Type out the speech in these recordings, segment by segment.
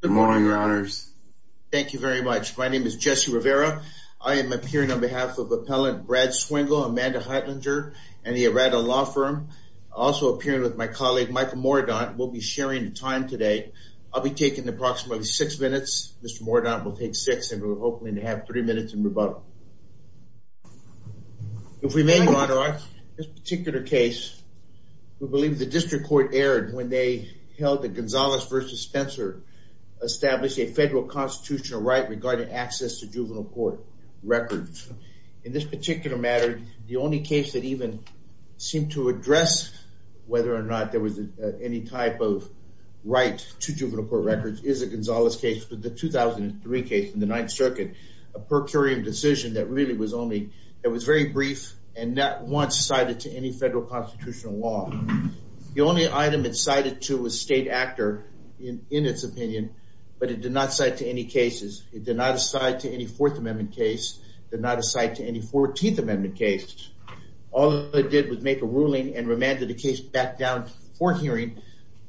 Good morning, your honors. Thank you very much. My name is Jesse Rivera. I am appearing on behalf of Appellant Brad Swingle, Amanda Heitlinger, and the Errada Law Firm. Also appearing with my colleague, Michael Mordaunt. We'll be sharing the time today. I'll be taking approximately six minutes. Mr. Mordaunt will take six, and we're hoping to have three minutes in rebuttal. If we may, your honor, on this particular case, we believe the district court erred when they held that Gonzales versus Spencer established a federal constitutional right regarding access to juvenile court records. In this particular matter, the only case that even seemed to address whether or not there was any type of right to juvenile court records is a Gonzales case. But the 2003 case in the Ninth Circuit, a per curiam decision that really was only very brief and not once cited to any federal constitutional law. The only item it cited to was state actor, in its opinion, but it did not cite to any cases. It did not cite to any Fourth Amendment case, did not cite to any 14th Amendment case. All it did was make a ruling and remanded the case back down for hearing,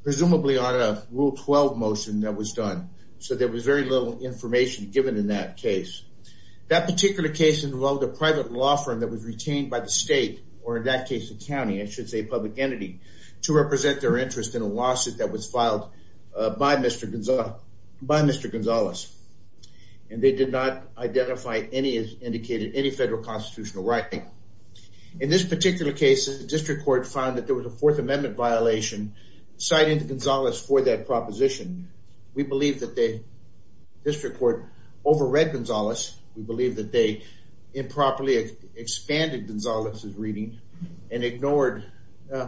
presumably on a Rule 12 motion that was done. So there was very little information given in that case. That particular case involved a private law firm that was retained by the state, or in that case, the county. I should say public entity, to represent their interest in a lawsuit that was filed by Mr. Gonzales. And they did not identify any, as indicated, any federal constitutional right. In this particular case, the district court found that there was a Fourth Amendment violation citing Gonzales for that proposition. We believe that the district court overread Gonzales. We believe that they improperly expanded Gonzales' reading and ignored,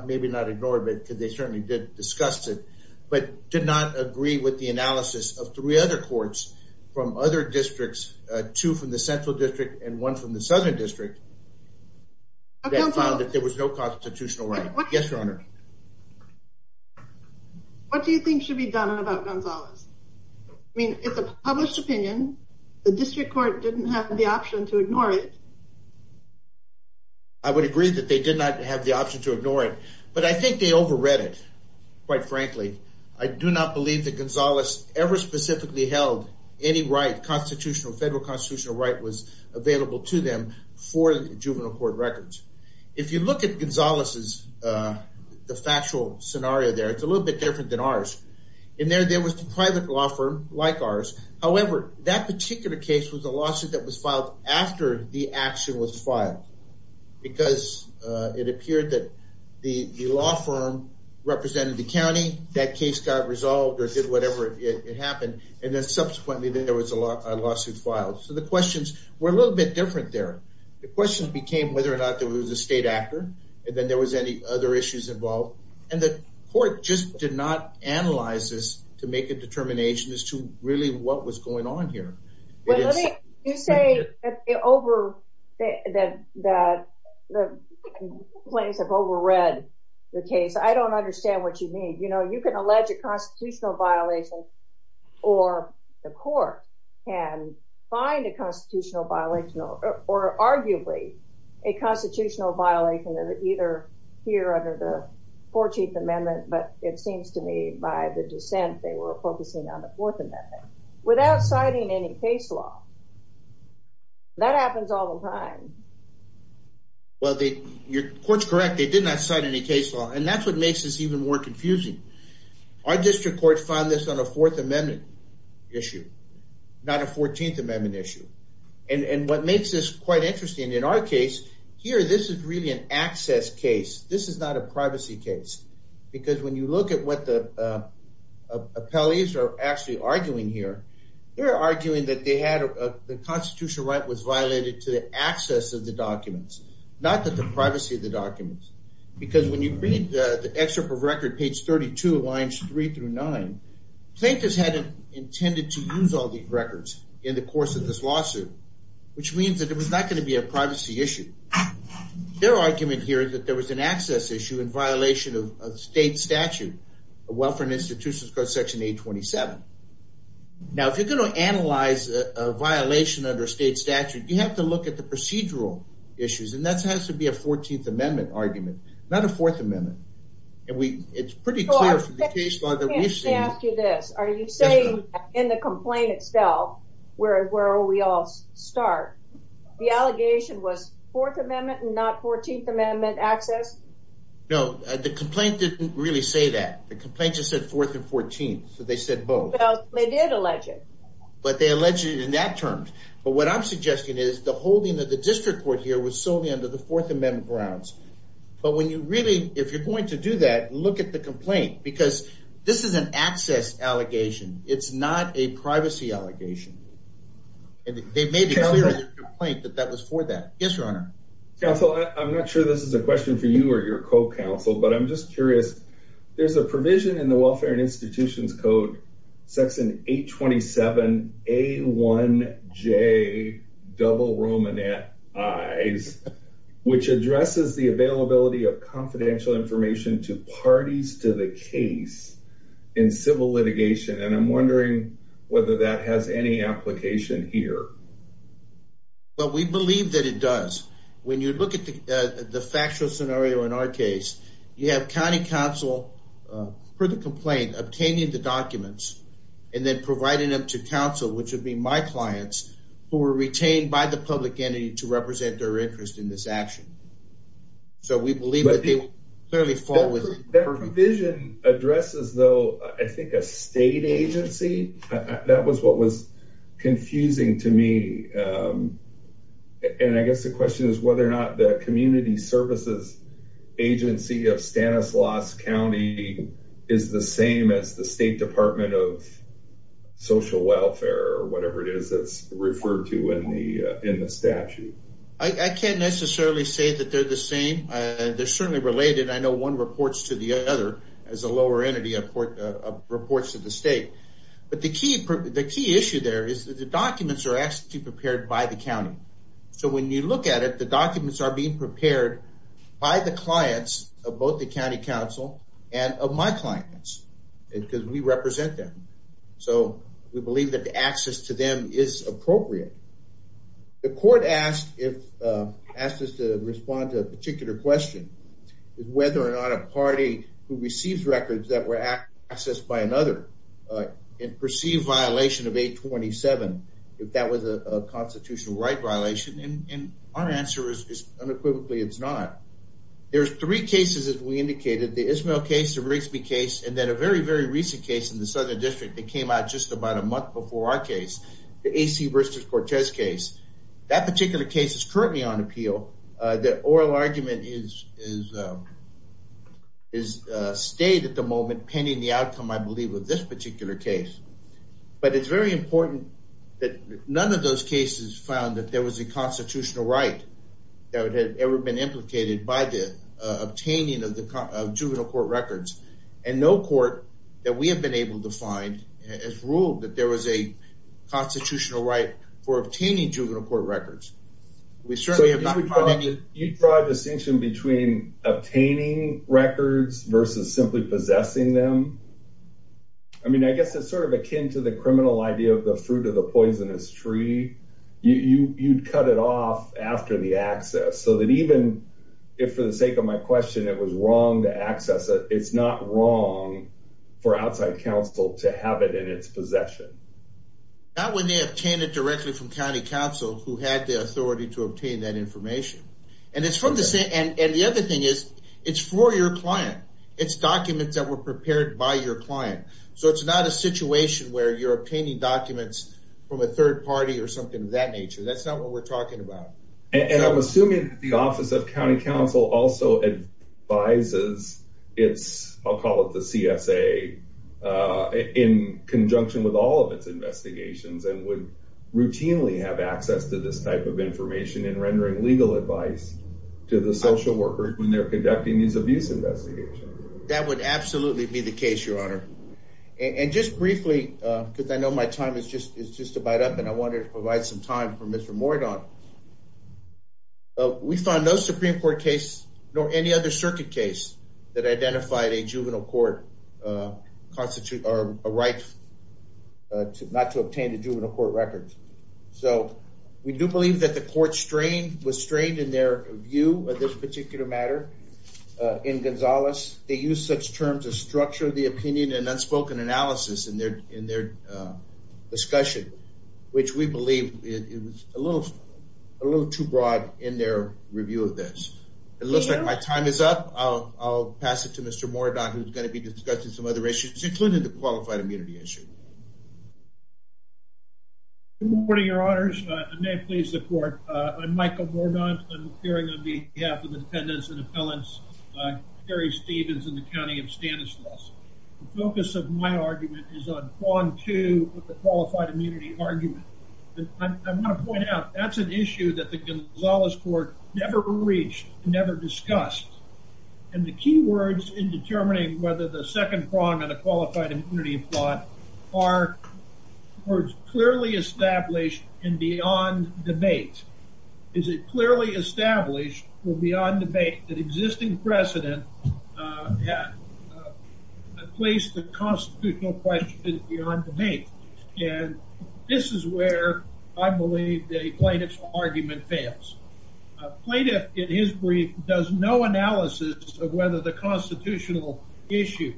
maybe not ignored, but because they certainly did discuss it, but did not agree with the analysis of three other courts from other districts, two from the Central District and one from the Southern District, that found that there was no constitutional right. Yes, Your Honor. What do you think should be done about Gonzales? I mean, it's a published opinion. The district court didn't have the option to ignore it. I would agree that they did not have the option to ignore it. But I think they overread it, quite frankly. I do not believe that Gonzales ever specifically held any right, constitutional, federal constitutional right was available to them for the juvenile court records. If you look at Gonzales' factual scenario there, it's a little bit different than ours. In there, there was a private law firm like ours. However, that particular case was a lawsuit that was filed after the action was filed, because it appeared that the law firm represented the county. That case got resolved or did whatever it happened. And then subsequently, then there was a lawsuit filed. So the questions were a little bit different there. The question became whether or not there was a state actor, and then there was any other issues involved. And the court just did not analyze this to make a determination as to really what was going on here. Well, let me just say that the complaints have overread the case. I don't understand what you mean. You can allege a constitutional violation, or the court can find a constitutional violation, or arguably a constitutional violation either here under the 14th Amendment. But it seems to me by the dissent, they were focusing on the Fourth Amendment. Without citing any case law. That happens all the time. Well, your court's correct. They did not cite any case law. And that's what makes this even more confusing. Our district court found this on a Fourth Amendment issue, not a 14th Amendment issue. And what makes this quite interesting in our case, here this is really an access case. This is not a privacy case. Because when you look at what the appellees are actually arguing here, they're arguing that the constitutional right was violated to the access of the documents, not that the privacy of the documents. Because when you read the excerpt of record page 32 lines three through nine, plaintiffs hadn't intended to use all these records in the course of this lawsuit, which means that it was not going to be a privacy issue. Their argument here is that there was an access issue in violation of state statute, the Welfare and Institutions Code, section 827. Now, if you're going to analyze a violation under state statute, you have to look at the procedural issues. And that has to be a 14th Amendment argument, not a Fourth Amendment. And it's pretty clear from the case law that we've seen. I have to ask you this. Are you saying in the complaint itself, where will we all start? The allegation was Fourth Amendment and not 14th Amendment access? No, the complaint didn't really say that. The complaint just said Fourth and 14th, so they said both. Well, they did allege it. But they alleged it in that term. But what I'm suggesting is the holding of the district court here was solely under the Fourth Amendment grounds. But when you really, if you're going to do that, look at the complaint. Because this is an access allegation. It's not a privacy allegation. And they made it clear in the complaint that that was for that. Yes, Your Honor. Counsel, I'm not sure this is a question for you or your co-counsel, but I'm just curious. There's a provision in the Welfare and Institutions Code section 827A1J double Romanet I's, which addresses the availability of confidential information to parties to the case in civil litigation. And I'm wondering whether that has any application here. Well, we believe that it does. When you look at the factual scenario in our case, you have county counsel, per the complaint, obtaining the documents and then providing them to counsel, which would be my clients, who were retained by the public entity to represent their interest in this action. So we believe that they would clearly fall within. That provision addresses, though, I think a state agency. That was what was confusing to me. And I guess the question is whether or not the community services agency of Stanislaus County is the same as the State Department of Social Welfare or whatever it is that's referred to in the statute. I can't necessarily say that they're the same. They're certainly related. I know one reports to the other as a lower entity reports to the state. But the key issue there is that the documents are actually prepared by the county. So when you look at it, the documents are being prepared by the clients of both the county counsel and of my clients, because we represent them. So we believe that the access to them is appropriate. The court asked us to respond to a particular question, is whether or not a party who receives records that were accessed by another, in perceived violation of 827, if that was a constitutional right violation. And our answer is unequivocally, it's not. There's three cases, as we indicated, the Ismael case, the Rigsby case, and then a very, very recent case in the Southern District that came out just about a month before our case, the A.C. Worcester-Cortez case. That particular case is currently on appeal. The oral argument is stayed at the moment, pending the outcome, I believe, of this particular case. But it's very important that none of those cases found that there was a constitutional right that had ever been implicated by the obtaining of juvenile court records. And no court that we have been able to find has ruled that there was a constitutional right for obtaining juvenile court records. We certainly have not found any- You draw a distinction between obtaining records versus simply possessing them? I mean, I guess it's sort of akin to the criminal idea of the fruit of the poisonous tree. You'd cut it off after the access, so that even if, for the sake of my question, it was wrong to access it, it's not wrong for outside counsel to have it in its possession. Not when they obtained it directly from county counsel who had the authority to obtain that information. And it's from the same- And the other thing is, it's for your client. It's documents that were prepared by your client. So it's not a situation where you're obtaining documents from a third party or something of that nature. That's not what we're talking about. And I'm assuming that the Office of County Counsel also advises its, I'll call it the CSA, in conjunction with all of its investigations, and would routinely have access to this type of information in rendering legal advice to the social workers when they're conducting these abuse investigations. That would absolutely be the case, Your Honor. And just briefly, because I know my time is just about up, and I wanted to provide some time for Mr. Mordaunt, we found no Supreme Court case, nor any other circuit case, that identified a juvenile court constitute, or a right not to obtain the juvenile court records. So we do believe that the court was strained in their view of this particular matter in Gonzales. They used such terms as structure of the opinion and unspoken analysis in their discussion, which we believe it was a little too broad in their review of this. It looks like my time is up. I'll pass it to Mr. Mordaunt, who's gonna be discussing some other issues, including the qualified immunity issue. Good morning, Your Honors. I may have pleased the court. I'm Michael Mordaunt. I'm appearing on behalf of the defendants and appellants, Terry Stevens in the County of Stanislaus. The focus of my argument is on prong two with the qualified immunity argument. I wanna point out, that's an issue that the Gonzales Court never reached, never discussed. And the key words in determining whether the second prong on a qualified immunity plot are clearly established and beyond debate. Is it clearly established or beyond debate that existing precedent placed the constitutional question beyond debate? And this is where I believe the plaintiff's argument fails. Plaintiff, in his brief, does no analysis of whether the constitutional issue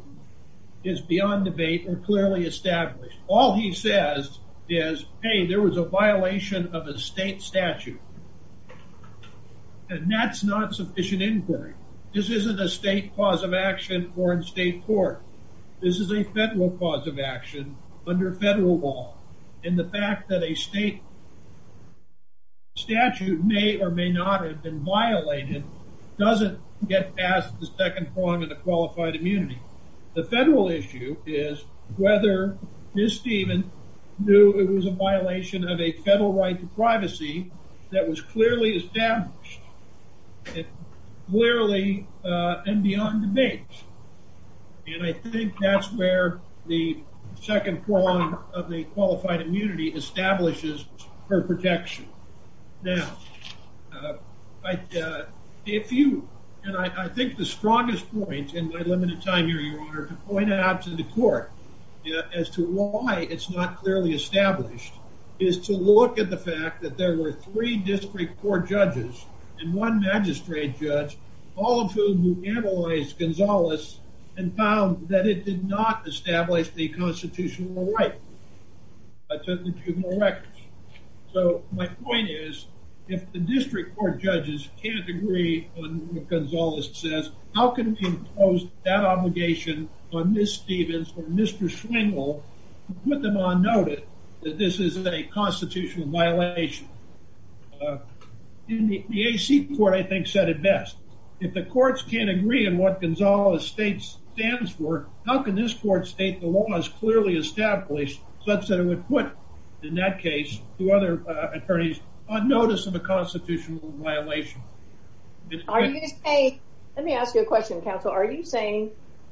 is beyond debate or clearly established. All he says is, hey, there was a violation of a state statute. And that's not sufficient inquiry. This isn't a state cause of action or in state court. This is a federal cause of action under federal law. And the fact that a state statute may or may not have been violated, doesn't get past the second prong of the qualified immunity. The federal issue is whether Ms. Stevens knew it was a violation of a federal right to privacy that was clearly established, clearly and beyond debate. And I think that's where the second prong of the qualified immunity establishes her protection. Now, if you, and I think the strongest point in my limited time here, Your Honor, to point out to the court as to why it's not clearly established is to look at the fact that there were three district court judges and one magistrate judge, all of whom analyzed Gonzales and found that it did not establish the constitutional right to the juvenile records. So my point is, if the district court judges can't agree on what Gonzales says, how can we impose that obligation on Ms. Stevens or Mr. Schwingle to put them on notice that this is a constitutional violation? In the AC court, I think said it best. If the courts can't agree on what Gonzales' state stands for, how can this court state the law is clearly established such that it would put, in that case, two other attorneys on notice of a constitutional violation? Are you saying, let me ask you a question, counsel. Are you saying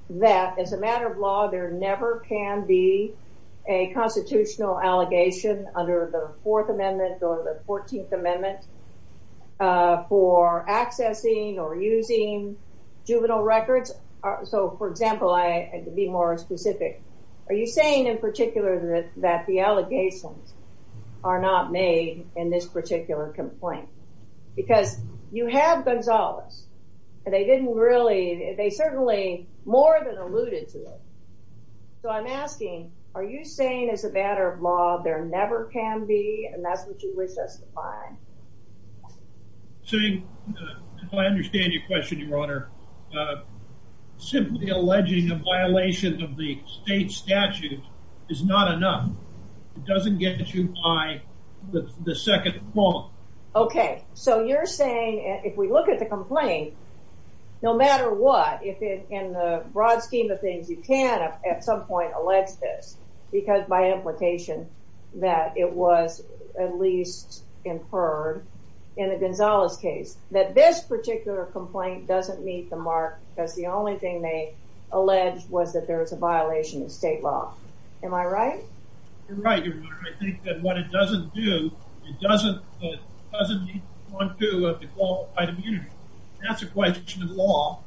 that as a matter of law, there never can be a constitutional allegation under the Fourth Amendment or the 14th Amendment for accessing or using juvenile records? So for example, to be more specific, are you saying in particular that the allegations are not made in this particular complaint? Because you have Gonzales, and they didn't really, they certainly more than alluded to it. So I'm asking, are you saying as a matter of law, there never can be, and that's what you wish us to find? So I understand your question, Your Honor. Simply alleging a violation of the state statute is not enough. It doesn't get you by the second point. Okay, so you're saying if we look at the complaint, no matter what, if in the broad scheme of things, you can at some point allege this, because by implication that it was at least inferred in the Gonzales case, that this particular complaint doesn't meet the mark because the only thing they allege was that there was a violation of state law. Am I right? You're right, Your Honor. I think that what it doesn't do, it doesn't meet the 1.2 of the qualified immunity. That's a question of law.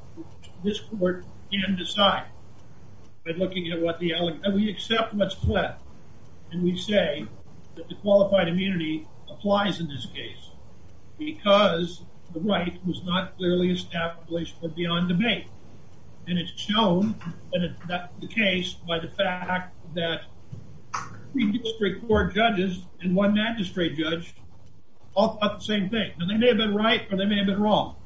This court can decide by looking at what the allegation, and we accept what's pledged. And we say that the qualified immunity applies in this case because the right was not clearly established or beyond debate. And it's shown that that's the case by the fact that three district court judges and one magistrate judge all thought the same thing. And they may have been right or they may have been wrong.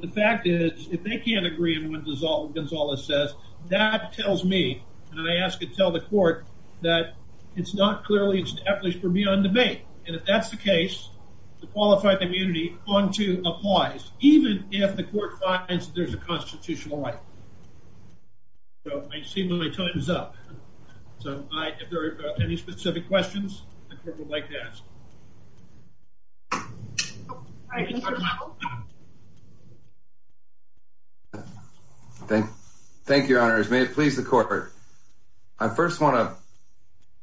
The fact is, if they can't agree on what Gonzales says, that tells me, and I ask to tell the court that it's not clearly established or beyond debate. And if that's the case, the qualified immunity 1.2 applies, even if the court finds there's a constitutional right. So I see my time is up. So if there are any specific questions, the court would like to ask. Thank you. Thank you, your honors. May it please the court. I first wanna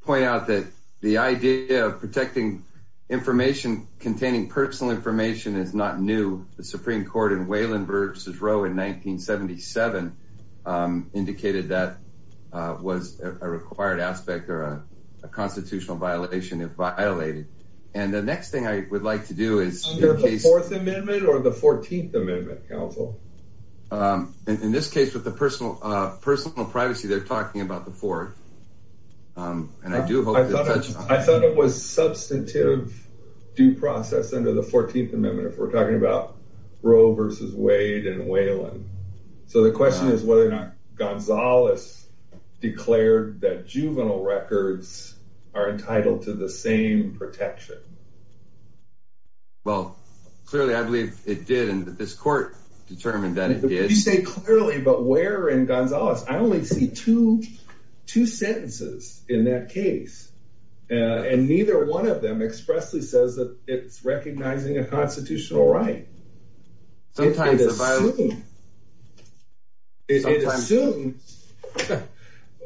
point out that the idea of protecting information containing personal information is not new. The Supreme Court in Wayland versus Roe in 1977 indicated that was a required aspect or a constitutional violation if violated. And the next thing I would like to do is- Under the fourth amendment or the 14th amendment counsel? In this case with the personal privacy, they're talking about the fourth. And I do hope- I thought it was substantive due process under the 14th amendment, if we're talking about Roe versus Wade in Wayland. So the question is whether or not Gonzales declared that juvenile records are entitled to the same protection. Well, clearly I believe it did. And this court determined that it did. You say clearly, but where in Gonzales? I only see two sentences in that case. And neither one of them expressly says that it's recognizing a constitutional right. Sometimes the violation- It assumes, it assumes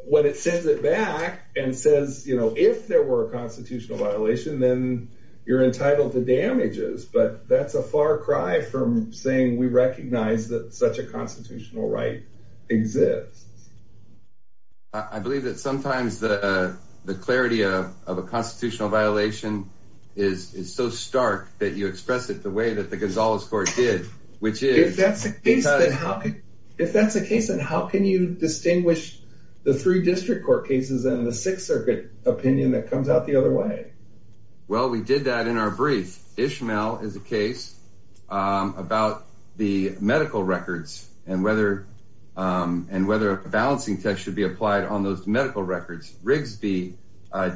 when it sends it back and says, you know, if there were a constitutional violation then you're entitled to damages. But that's a far cry from saying we recognize that such a constitutional right exists. I believe that sometimes the clarity of a constitutional violation is so stark that you express it the way that the Gonzales court did, which is- If that's the case, then how can you distinguish the three district court cases and the Sixth Circuit opinion that comes out the other way? Well, we did that in our brief. Ishmael is a case about the medical records and whether a balancing test should be applied on those medical records. Rigsby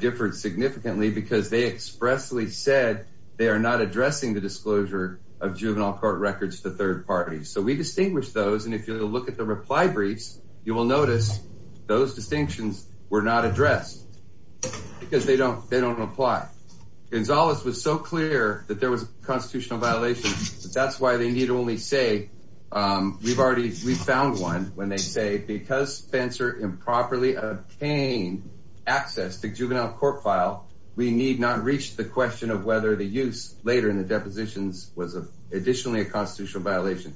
differed significantly because they expressly said they are not addressing the disclosure of juvenile court records to third parties. So we distinguish those. And if you look at the reply briefs, you will notice those distinctions were not addressed because they don't apply. Gonzales was so clear that there was a constitutional violation, but that's why they need only say, we've already, we found one when they say, because Spencer improperly obtained access to juvenile court file, we need not reach the question of whether the use later in the depositions was additionally a constitutional violation.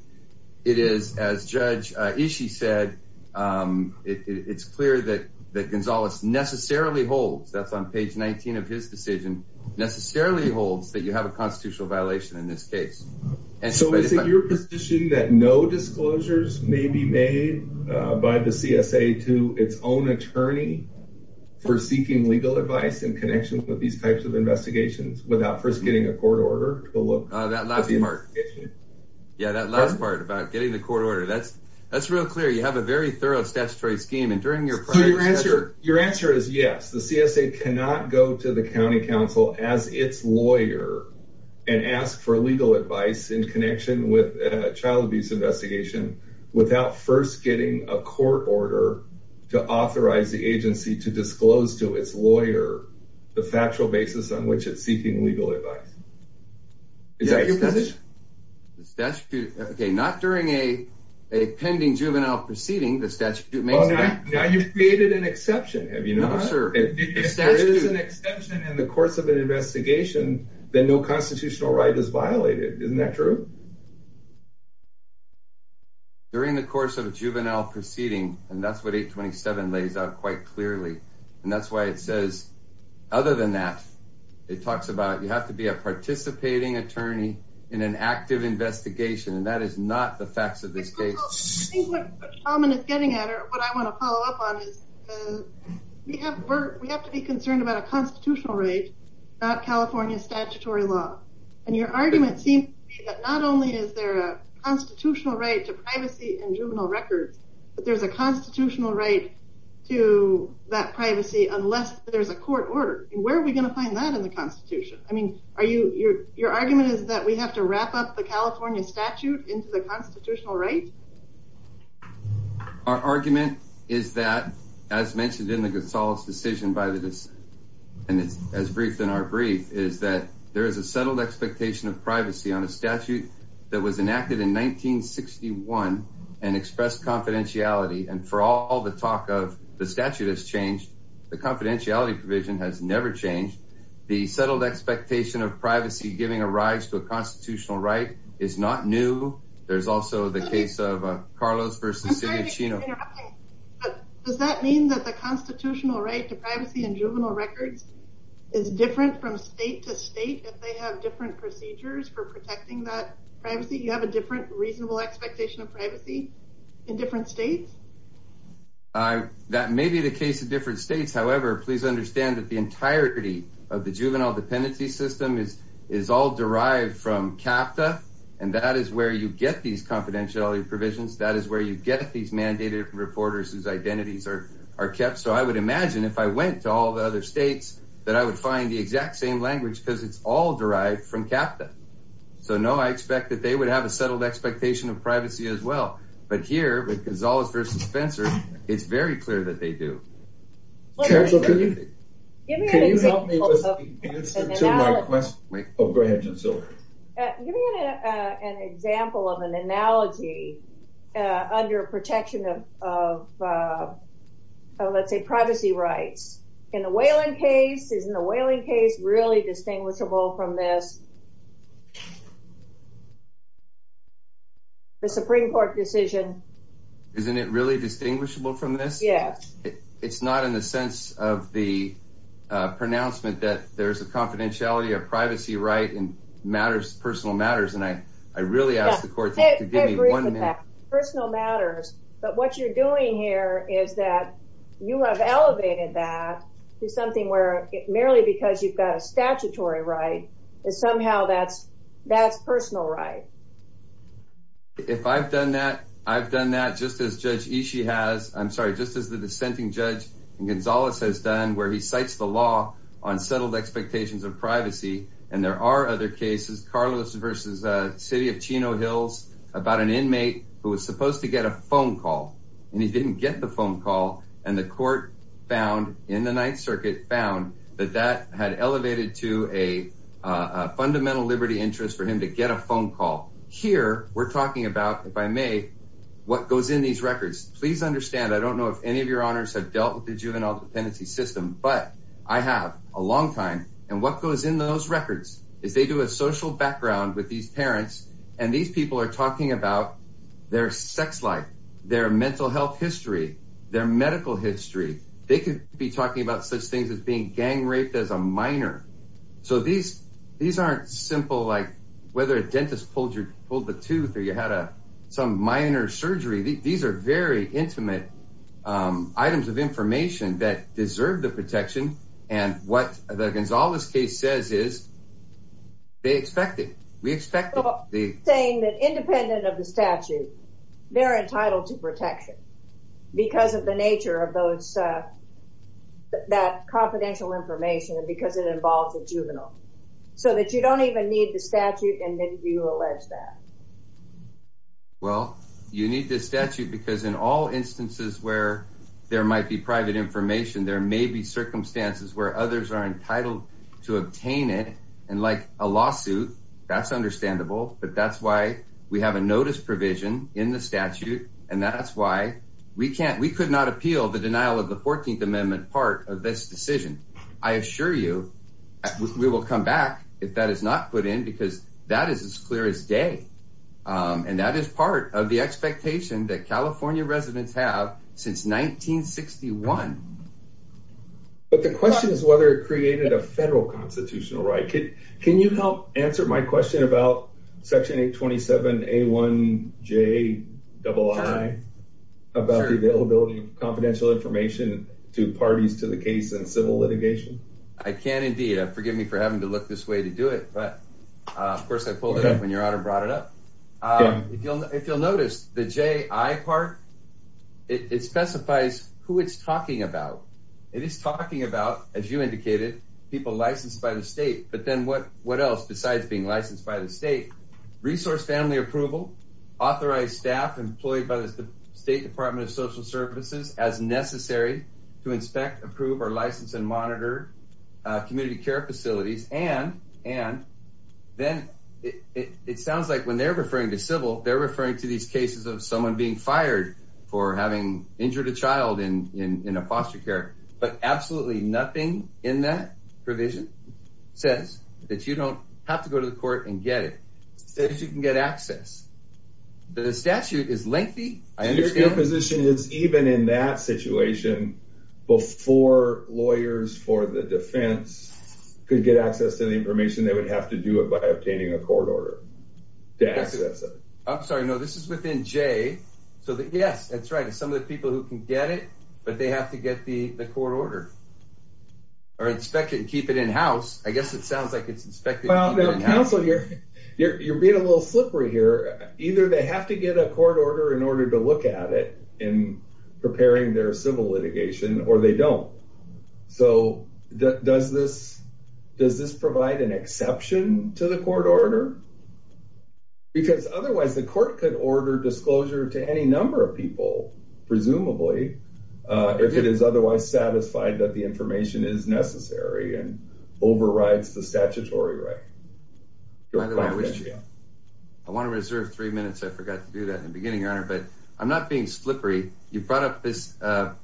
It is, as Judge Ishi said, it's clear that Gonzales necessarily holds, that's on page 19 of his decision, necessarily holds that you have a constitutional violation in this case. And so- So is it your position that no disclosures may be made by the CSA to its own attorney for seeking legal advice in connection with these types of investigations without first getting a court order to look- That last part. Yeah, that last part about getting the court order. That's real clear. You have a very thorough statutory scheme. And during your prior- So your answer is yes, the CSA cannot go to the County Council as its lawyer and ask for legal advice in connection with a child abuse investigation without first getting a court order to authorize the agency to disclose to its lawyer the factual basis on which it's seeking legal advice. Is that your position? The statute, okay, not during a pending juvenile proceeding, the statute makes- Now you've created an exception, have you not? No, sir. If there is an exception in the course of an investigation, then no constitutional right is violated. Isn't that true? During the course of a juvenile proceeding, and that's what 827 lays out quite clearly. And that's why it says, other than that, it talks about, you have to be a participating attorney in an active investigation. And that is not the facts of this case. I think what Tom is getting at, or what I want to follow up on is, we have to be concerned about a constitutional right, not California statutory law. And your argument seems to be that not only is there a constitutional right to privacy in juvenile records, but there's a constitutional right to that privacy unless there's a court order. Where are we going to find that in the constitution? I mean, are you, your argument is that we have to wrap up the California statute into the constitutional right? Our argument is that, as mentioned in the Gasol's decision by the, and it's as briefed in our brief, is that there is a settled expectation of privacy on a statute that was enacted in 1961 and expressed confidentiality. And for all the talk of the statute has changed, the confidentiality provision has never changed. The settled expectation of privacy, giving a rise to a constitutional right is not new. There's also the case of Carlos versus Cedia Chino. I'm sorry to keep interrupting, but does that mean that the constitutional right to privacy in juvenile records is different from state to state, if they have different procedures for protecting that privacy? You have a different reasonable expectation of privacy in different states? That may be the case in different states. However, please understand that the entirety of the juvenile dependency system is all derived from CAPTA. And that is where you get these confidentiality provisions. That is where you get these mandated reporters whose identities are kept. So I would imagine if I went to all the other states that I would find the exact same language because it's all derived from CAPTA. So, no, I expect that they would have a settled expectation of privacy as well. But here with Gonzalez versus Spencer, it's very clear that they do. Can you help me with the answer to my question? Oh, go ahead, Gisela. Give me an example of an analogy under protection of, let's say, privacy rights. In the Whelan case, isn't the Whelan case really distinguishable from this? The Supreme Court decision. Isn't it really distinguishable from this? Yes. It's not in the sense of the pronouncement that there's a confidentiality or privacy right in matters, personal matters. And I really asked the court to give me one minute. Personal matters. But what you're doing here is that you have elevated that to something where, merely because you've got a statutory right, is somehow that's personal right. If I've done that, I've done that just as Judge Ishii has, I'm sorry, just as the dissenting judge Gonzalez has done, where he cites the law on settled expectations of privacy. And there are other cases, Carlos versus the city of Chino Hills about an inmate who was supposed to get a phone call and he didn't get the phone call. And the court found, in the Ninth Circuit, found that that had elevated to a fundamental liberty interest for him to get a phone call. Here, we're talking about, if I may, what goes in these records. Please understand, I don't know if any of your honors have dealt with the juvenile dependency system, but I have, a long time. And what goes in those records is they do a social background with these parents and these people are talking about their sex life, their mental health history, their medical history. They could be talking about such things as being gang raped as a minor. So these aren't simple, like whether a dentist pulled the tooth or you had some minor surgery. These are very intimate items of information that deserve the protection. And what the Gonzalez case says is they expect it. We expect it. Saying that independent of the statute, they're entitled to protection because of the nature of that confidential information and because it involves a juvenile. So that you don't even need the statute and then you allege that. Well, you need this statute because in all instances where there might be private information, there may be circumstances where others are entitled to obtain it. And like a lawsuit, that's understandable, but that's why we have a notice provision in the statute. And that's why we could not appeal the denial of the 14th Amendment part of this decision. I assure you, we will come back if that is not put in because that is as clear as day. And that is part of the expectation that California residents have since 1961. But the question is whether it created a federal constitutional right. Can you help answer my question about section 827A1JII about the availability of confidential information to parties to the case and civil litigation? I can indeed. Forgive me for having to look this way to do it, but of course I pulled it up when your honor brought it up. If you'll notice the JI part, it specifies who it's talking about. It is talking about, as you indicated, people licensed by the state, but then what else besides being licensed by the state? Resource family approval, authorized staff employed by the State Department of Social Services as necessary to inspect, approve, or license and monitor community care facilities. And then it sounds like when they're referring to civil, they're referring to these cases of someone being fired for having injured a child in a foster care, but absolutely nothing in that provision says that you don't have to go to the court and get it. It says you can get access. The statute is lengthy. I understand- Your position is even in that situation before lawyers for the defense could get access to the information, they would have to do it by obtaining a court order to access it. I'm sorry, no, this is within J. So yes, that's right. It's some of the people who can get it, but they have to get the court order or inspect it and keep it in-house. I guess it sounds like it's inspected- Well, counsel, you're being a little slippery here. Either they have to get a court order in order to look at it in preparing their civil litigation or they don't. So does this provide an exception to the court order? Because otherwise the court could order disclosure to any number of people, presumably, if it is otherwise satisfied that the information is necessary and overrides the statutory right. Your final opinion. I want to reserve three minutes. I forgot to do that in the beginning, Your Honor, but I'm not being slippery. You brought up this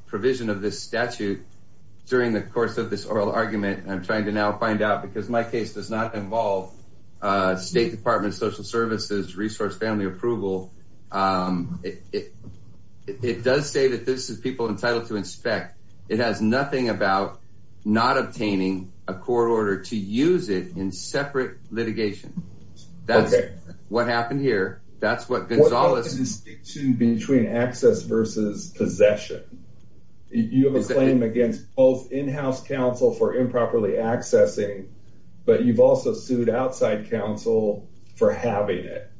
provision of this statute during the course of this oral argument, and I'm trying to now find out because my case does not involve State Department of Social Services resource family approval. It does say that this is people entitled to inspect. It has nothing about not obtaining a court order to use it in separate litigation. That's what happened here. That's what Gonzales- What about the distinction between access versus possession? You have a claim against both in-house counsel for improperly accessing, but you've also sued outside counsel for having it.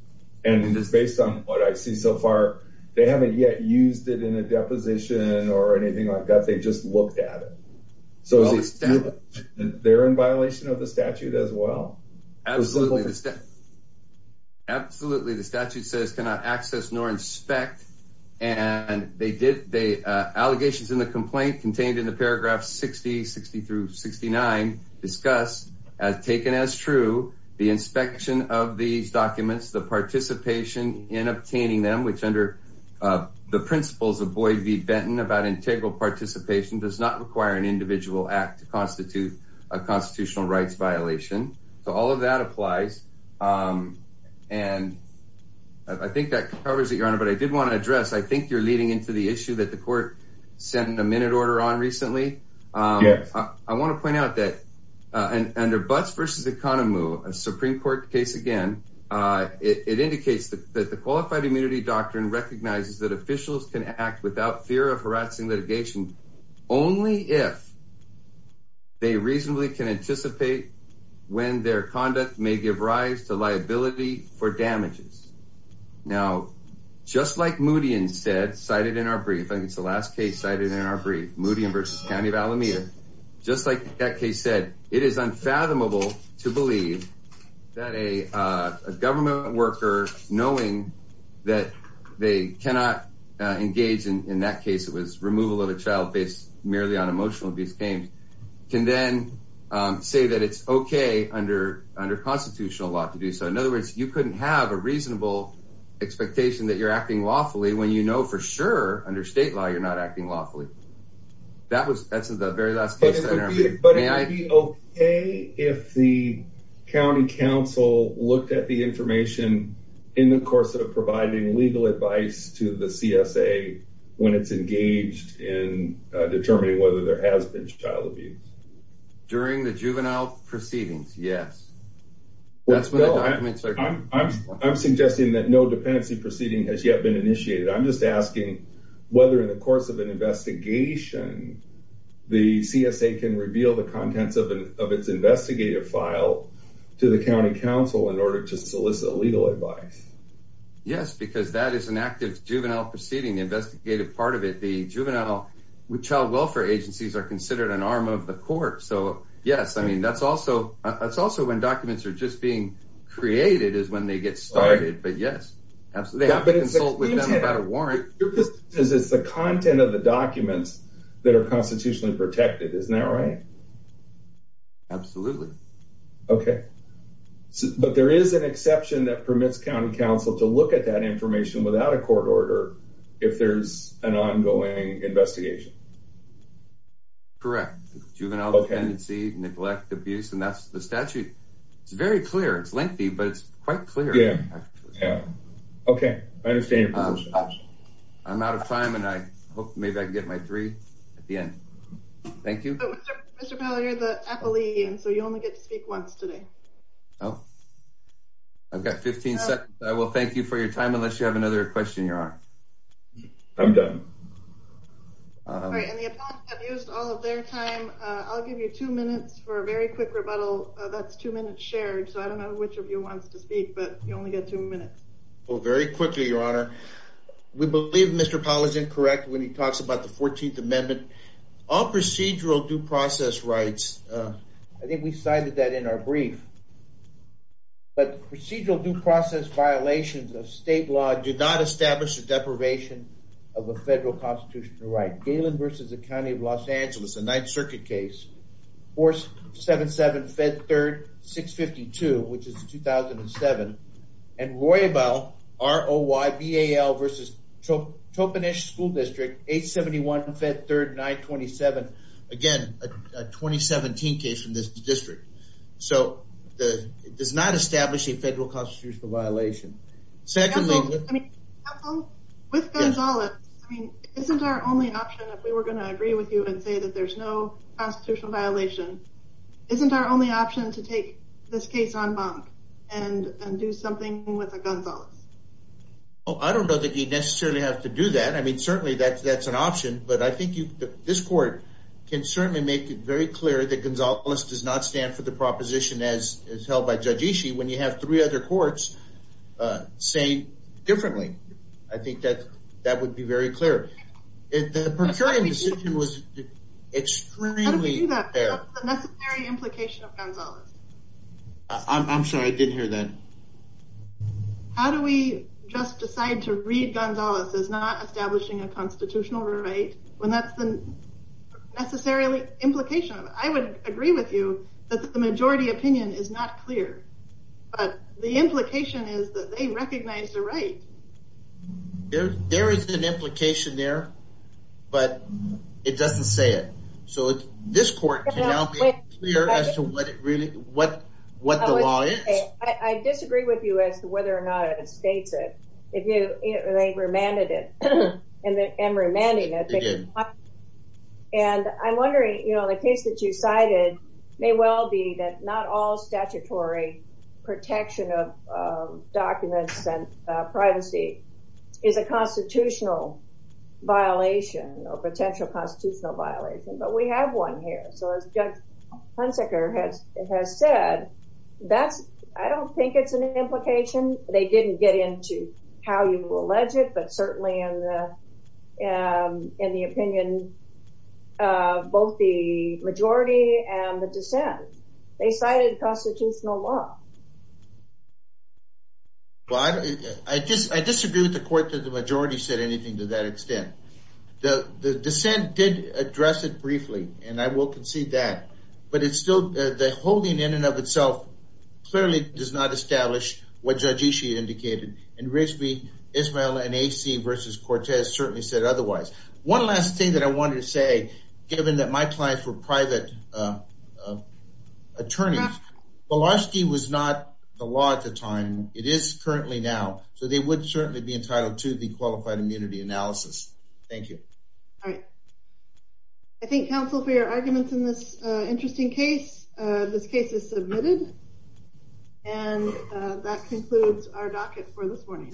And it's based on what I see so far, they haven't yet used it in a deposition or anything like that. They just looked at it. So they're in violation of the statute as well? Absolutely. Absolutely. The statute says, cannot access nor inspect. And they did. The allegations in the complaint contained in the paragraph 60, 60 through 69 discussed as taken as true. The inspection of these documents, the participation in obtaining them, which under the principles of Boyd v. Benton about integral participation does not require an individual act to constitute a constitutional rights violation. So all of that applies. And I think that covers it, Your Honor, but I did want to address, I think you're leading into the issue that the court sent in a minute order on recently. Yes. I want to point out that under Butts versus Economo, a Supreme Court case again, it indicates that the qualified immunity doctrine recognizes that officials can act without fear of harassing litigation only if they reasonably can anticipate when their conduct may give rise to liability for damages. Now, just like Moody instead cited in our brief, I think it's the last case cited in our brief, Moody v. County of Alameda. Just like that case said, it is unfathomable to believe that a government worker knowing that they cannot engage in, in that case it was removal of a child based merely on emotional abuse claims, can then say that it's okay under constitutional law to do so. In other words, you couldn't have a reasonable expectation that you're acting lawfully when you know for sure under state law you're not acting lawfully. That was, that's the very last case. But it would be okay if the County Council looked at the information in the course of providing legal advice to the CSA when it's engaged in determining whether there has been child abuse. During the juvenile proceedings, yes. That's when the documents are- I'm suggesting that no dependency proceeding has yet been initiated. I'm just asking whether in the course of an investigation the CSA can reveal the contents of its investigative file to the County Council in order to solicit legal advice. Yes, because that is an active juvenile proceeding, investigative part of it. The juvenile child welfare agencies are considered an arm of the court. So yes, I mean, that's also, that's also when documents are just being created is when they get started. But yes, they have to consult with them about a warrant. Because it's the content of the documents that are constitutionally protected. Isn't that right? Absolutely. Okay. But there is an exception that permits County Council to look at that information without a court order if there's an ongoing investigation. Correct. Juvenile dependency, neglect, abuse. And that's the statute. It's very clear. It's lengthy, but it's quite clear. Yeah, yeah. Okay, I understand your position. I'm out of time. And I hope maybe I can get my three at the end. Thank you. Mr. Powell, you're the appellee. And so you only get to speak once today. Oh, I've got 15 seconds. I will thank you for your time unless you have another question, Your Honor. I'm done. All right, and the appellants have used all of their time. I'll give you two minutes for a very quick rebuttal. That's two minutes shared. So I don't know which of you wants to speak, but you only get two minutes. Oh, very quickly, Your Honor. We believe Mr. Powell is incorrect when he talks about the 14th Amendment. All procedural due process rights, I think we cited that in our brief, but procedural due process violations of state law do not establish a deprivation of a federal constitutional right. Galen v. The County of Los Angeles, a Ninth Circuit case, Force 7753-652, which is 2007, and Roybal, R-O-Y-B-A-L versus Topanish School District, 871 Fed 3rd 927. Again, a 2017 case from this district. So it does not establish a federal constitutional violation. Secondly- Counsel, with Gonzalez, isn't our only option, if we were gonna agree with you and say that there's no constitutional violation, isn't our only option to take this case en banc and do something with a Gonzalez? Oh, I don't know that you'd necessarily have to do that. I mean, certainly that's an option, but I think this court can certainly make it very clear that Gonzalez does not stand for the proposition as held by Judge Ishii when you have three other courts saying differently. I think that that would be very clear. If the procuring decision was extremely- How do we do that? What's the necessary implication of Gonzalez? I'm sorry, I didn't hear that. How do we just decide to read Gonzalez as not establishing a constitutional right when that's the necessarily implication of it? I would agree with you that the majority opinion is not clear, but the implication is that they recognize the right. There is an implication there, but it doesn't say it. So this court can now be clear as to what the law is? I disagree with you as to whether or not it states it. They remanded it, and remanding it. They did. And I'm wondering, the case that you cited may well be that not all statutory protection of documents and privacy is a constitutional violation or potential constitutional violation, but we have one here. So as Judge Hunsaker has said, I don't think it's an implication. They didn't get into how you will allege it, but certainly in the opinion of both the majority and the dissent, they cited constitutional law. Well, I disagree with the court that the majority said anything to that extent. The dissent did address it briefly, and I will concede that. But it's still, the holding in and of itself clearly does not establish what Judge Ishii indicated, and Rigsby, Ismael, and AC versus Cortez certainly said otherwise. One last thing that I wanted to say, given that my clients were private attorneys, Belosky was not the law at the time. It is currently now. So they would certainly be entitled to the qualified immunity analysis. Thank you. All right. I thank counsel for your arguments in this interesting case. This case is submitted. And that concludes our docket for this morning.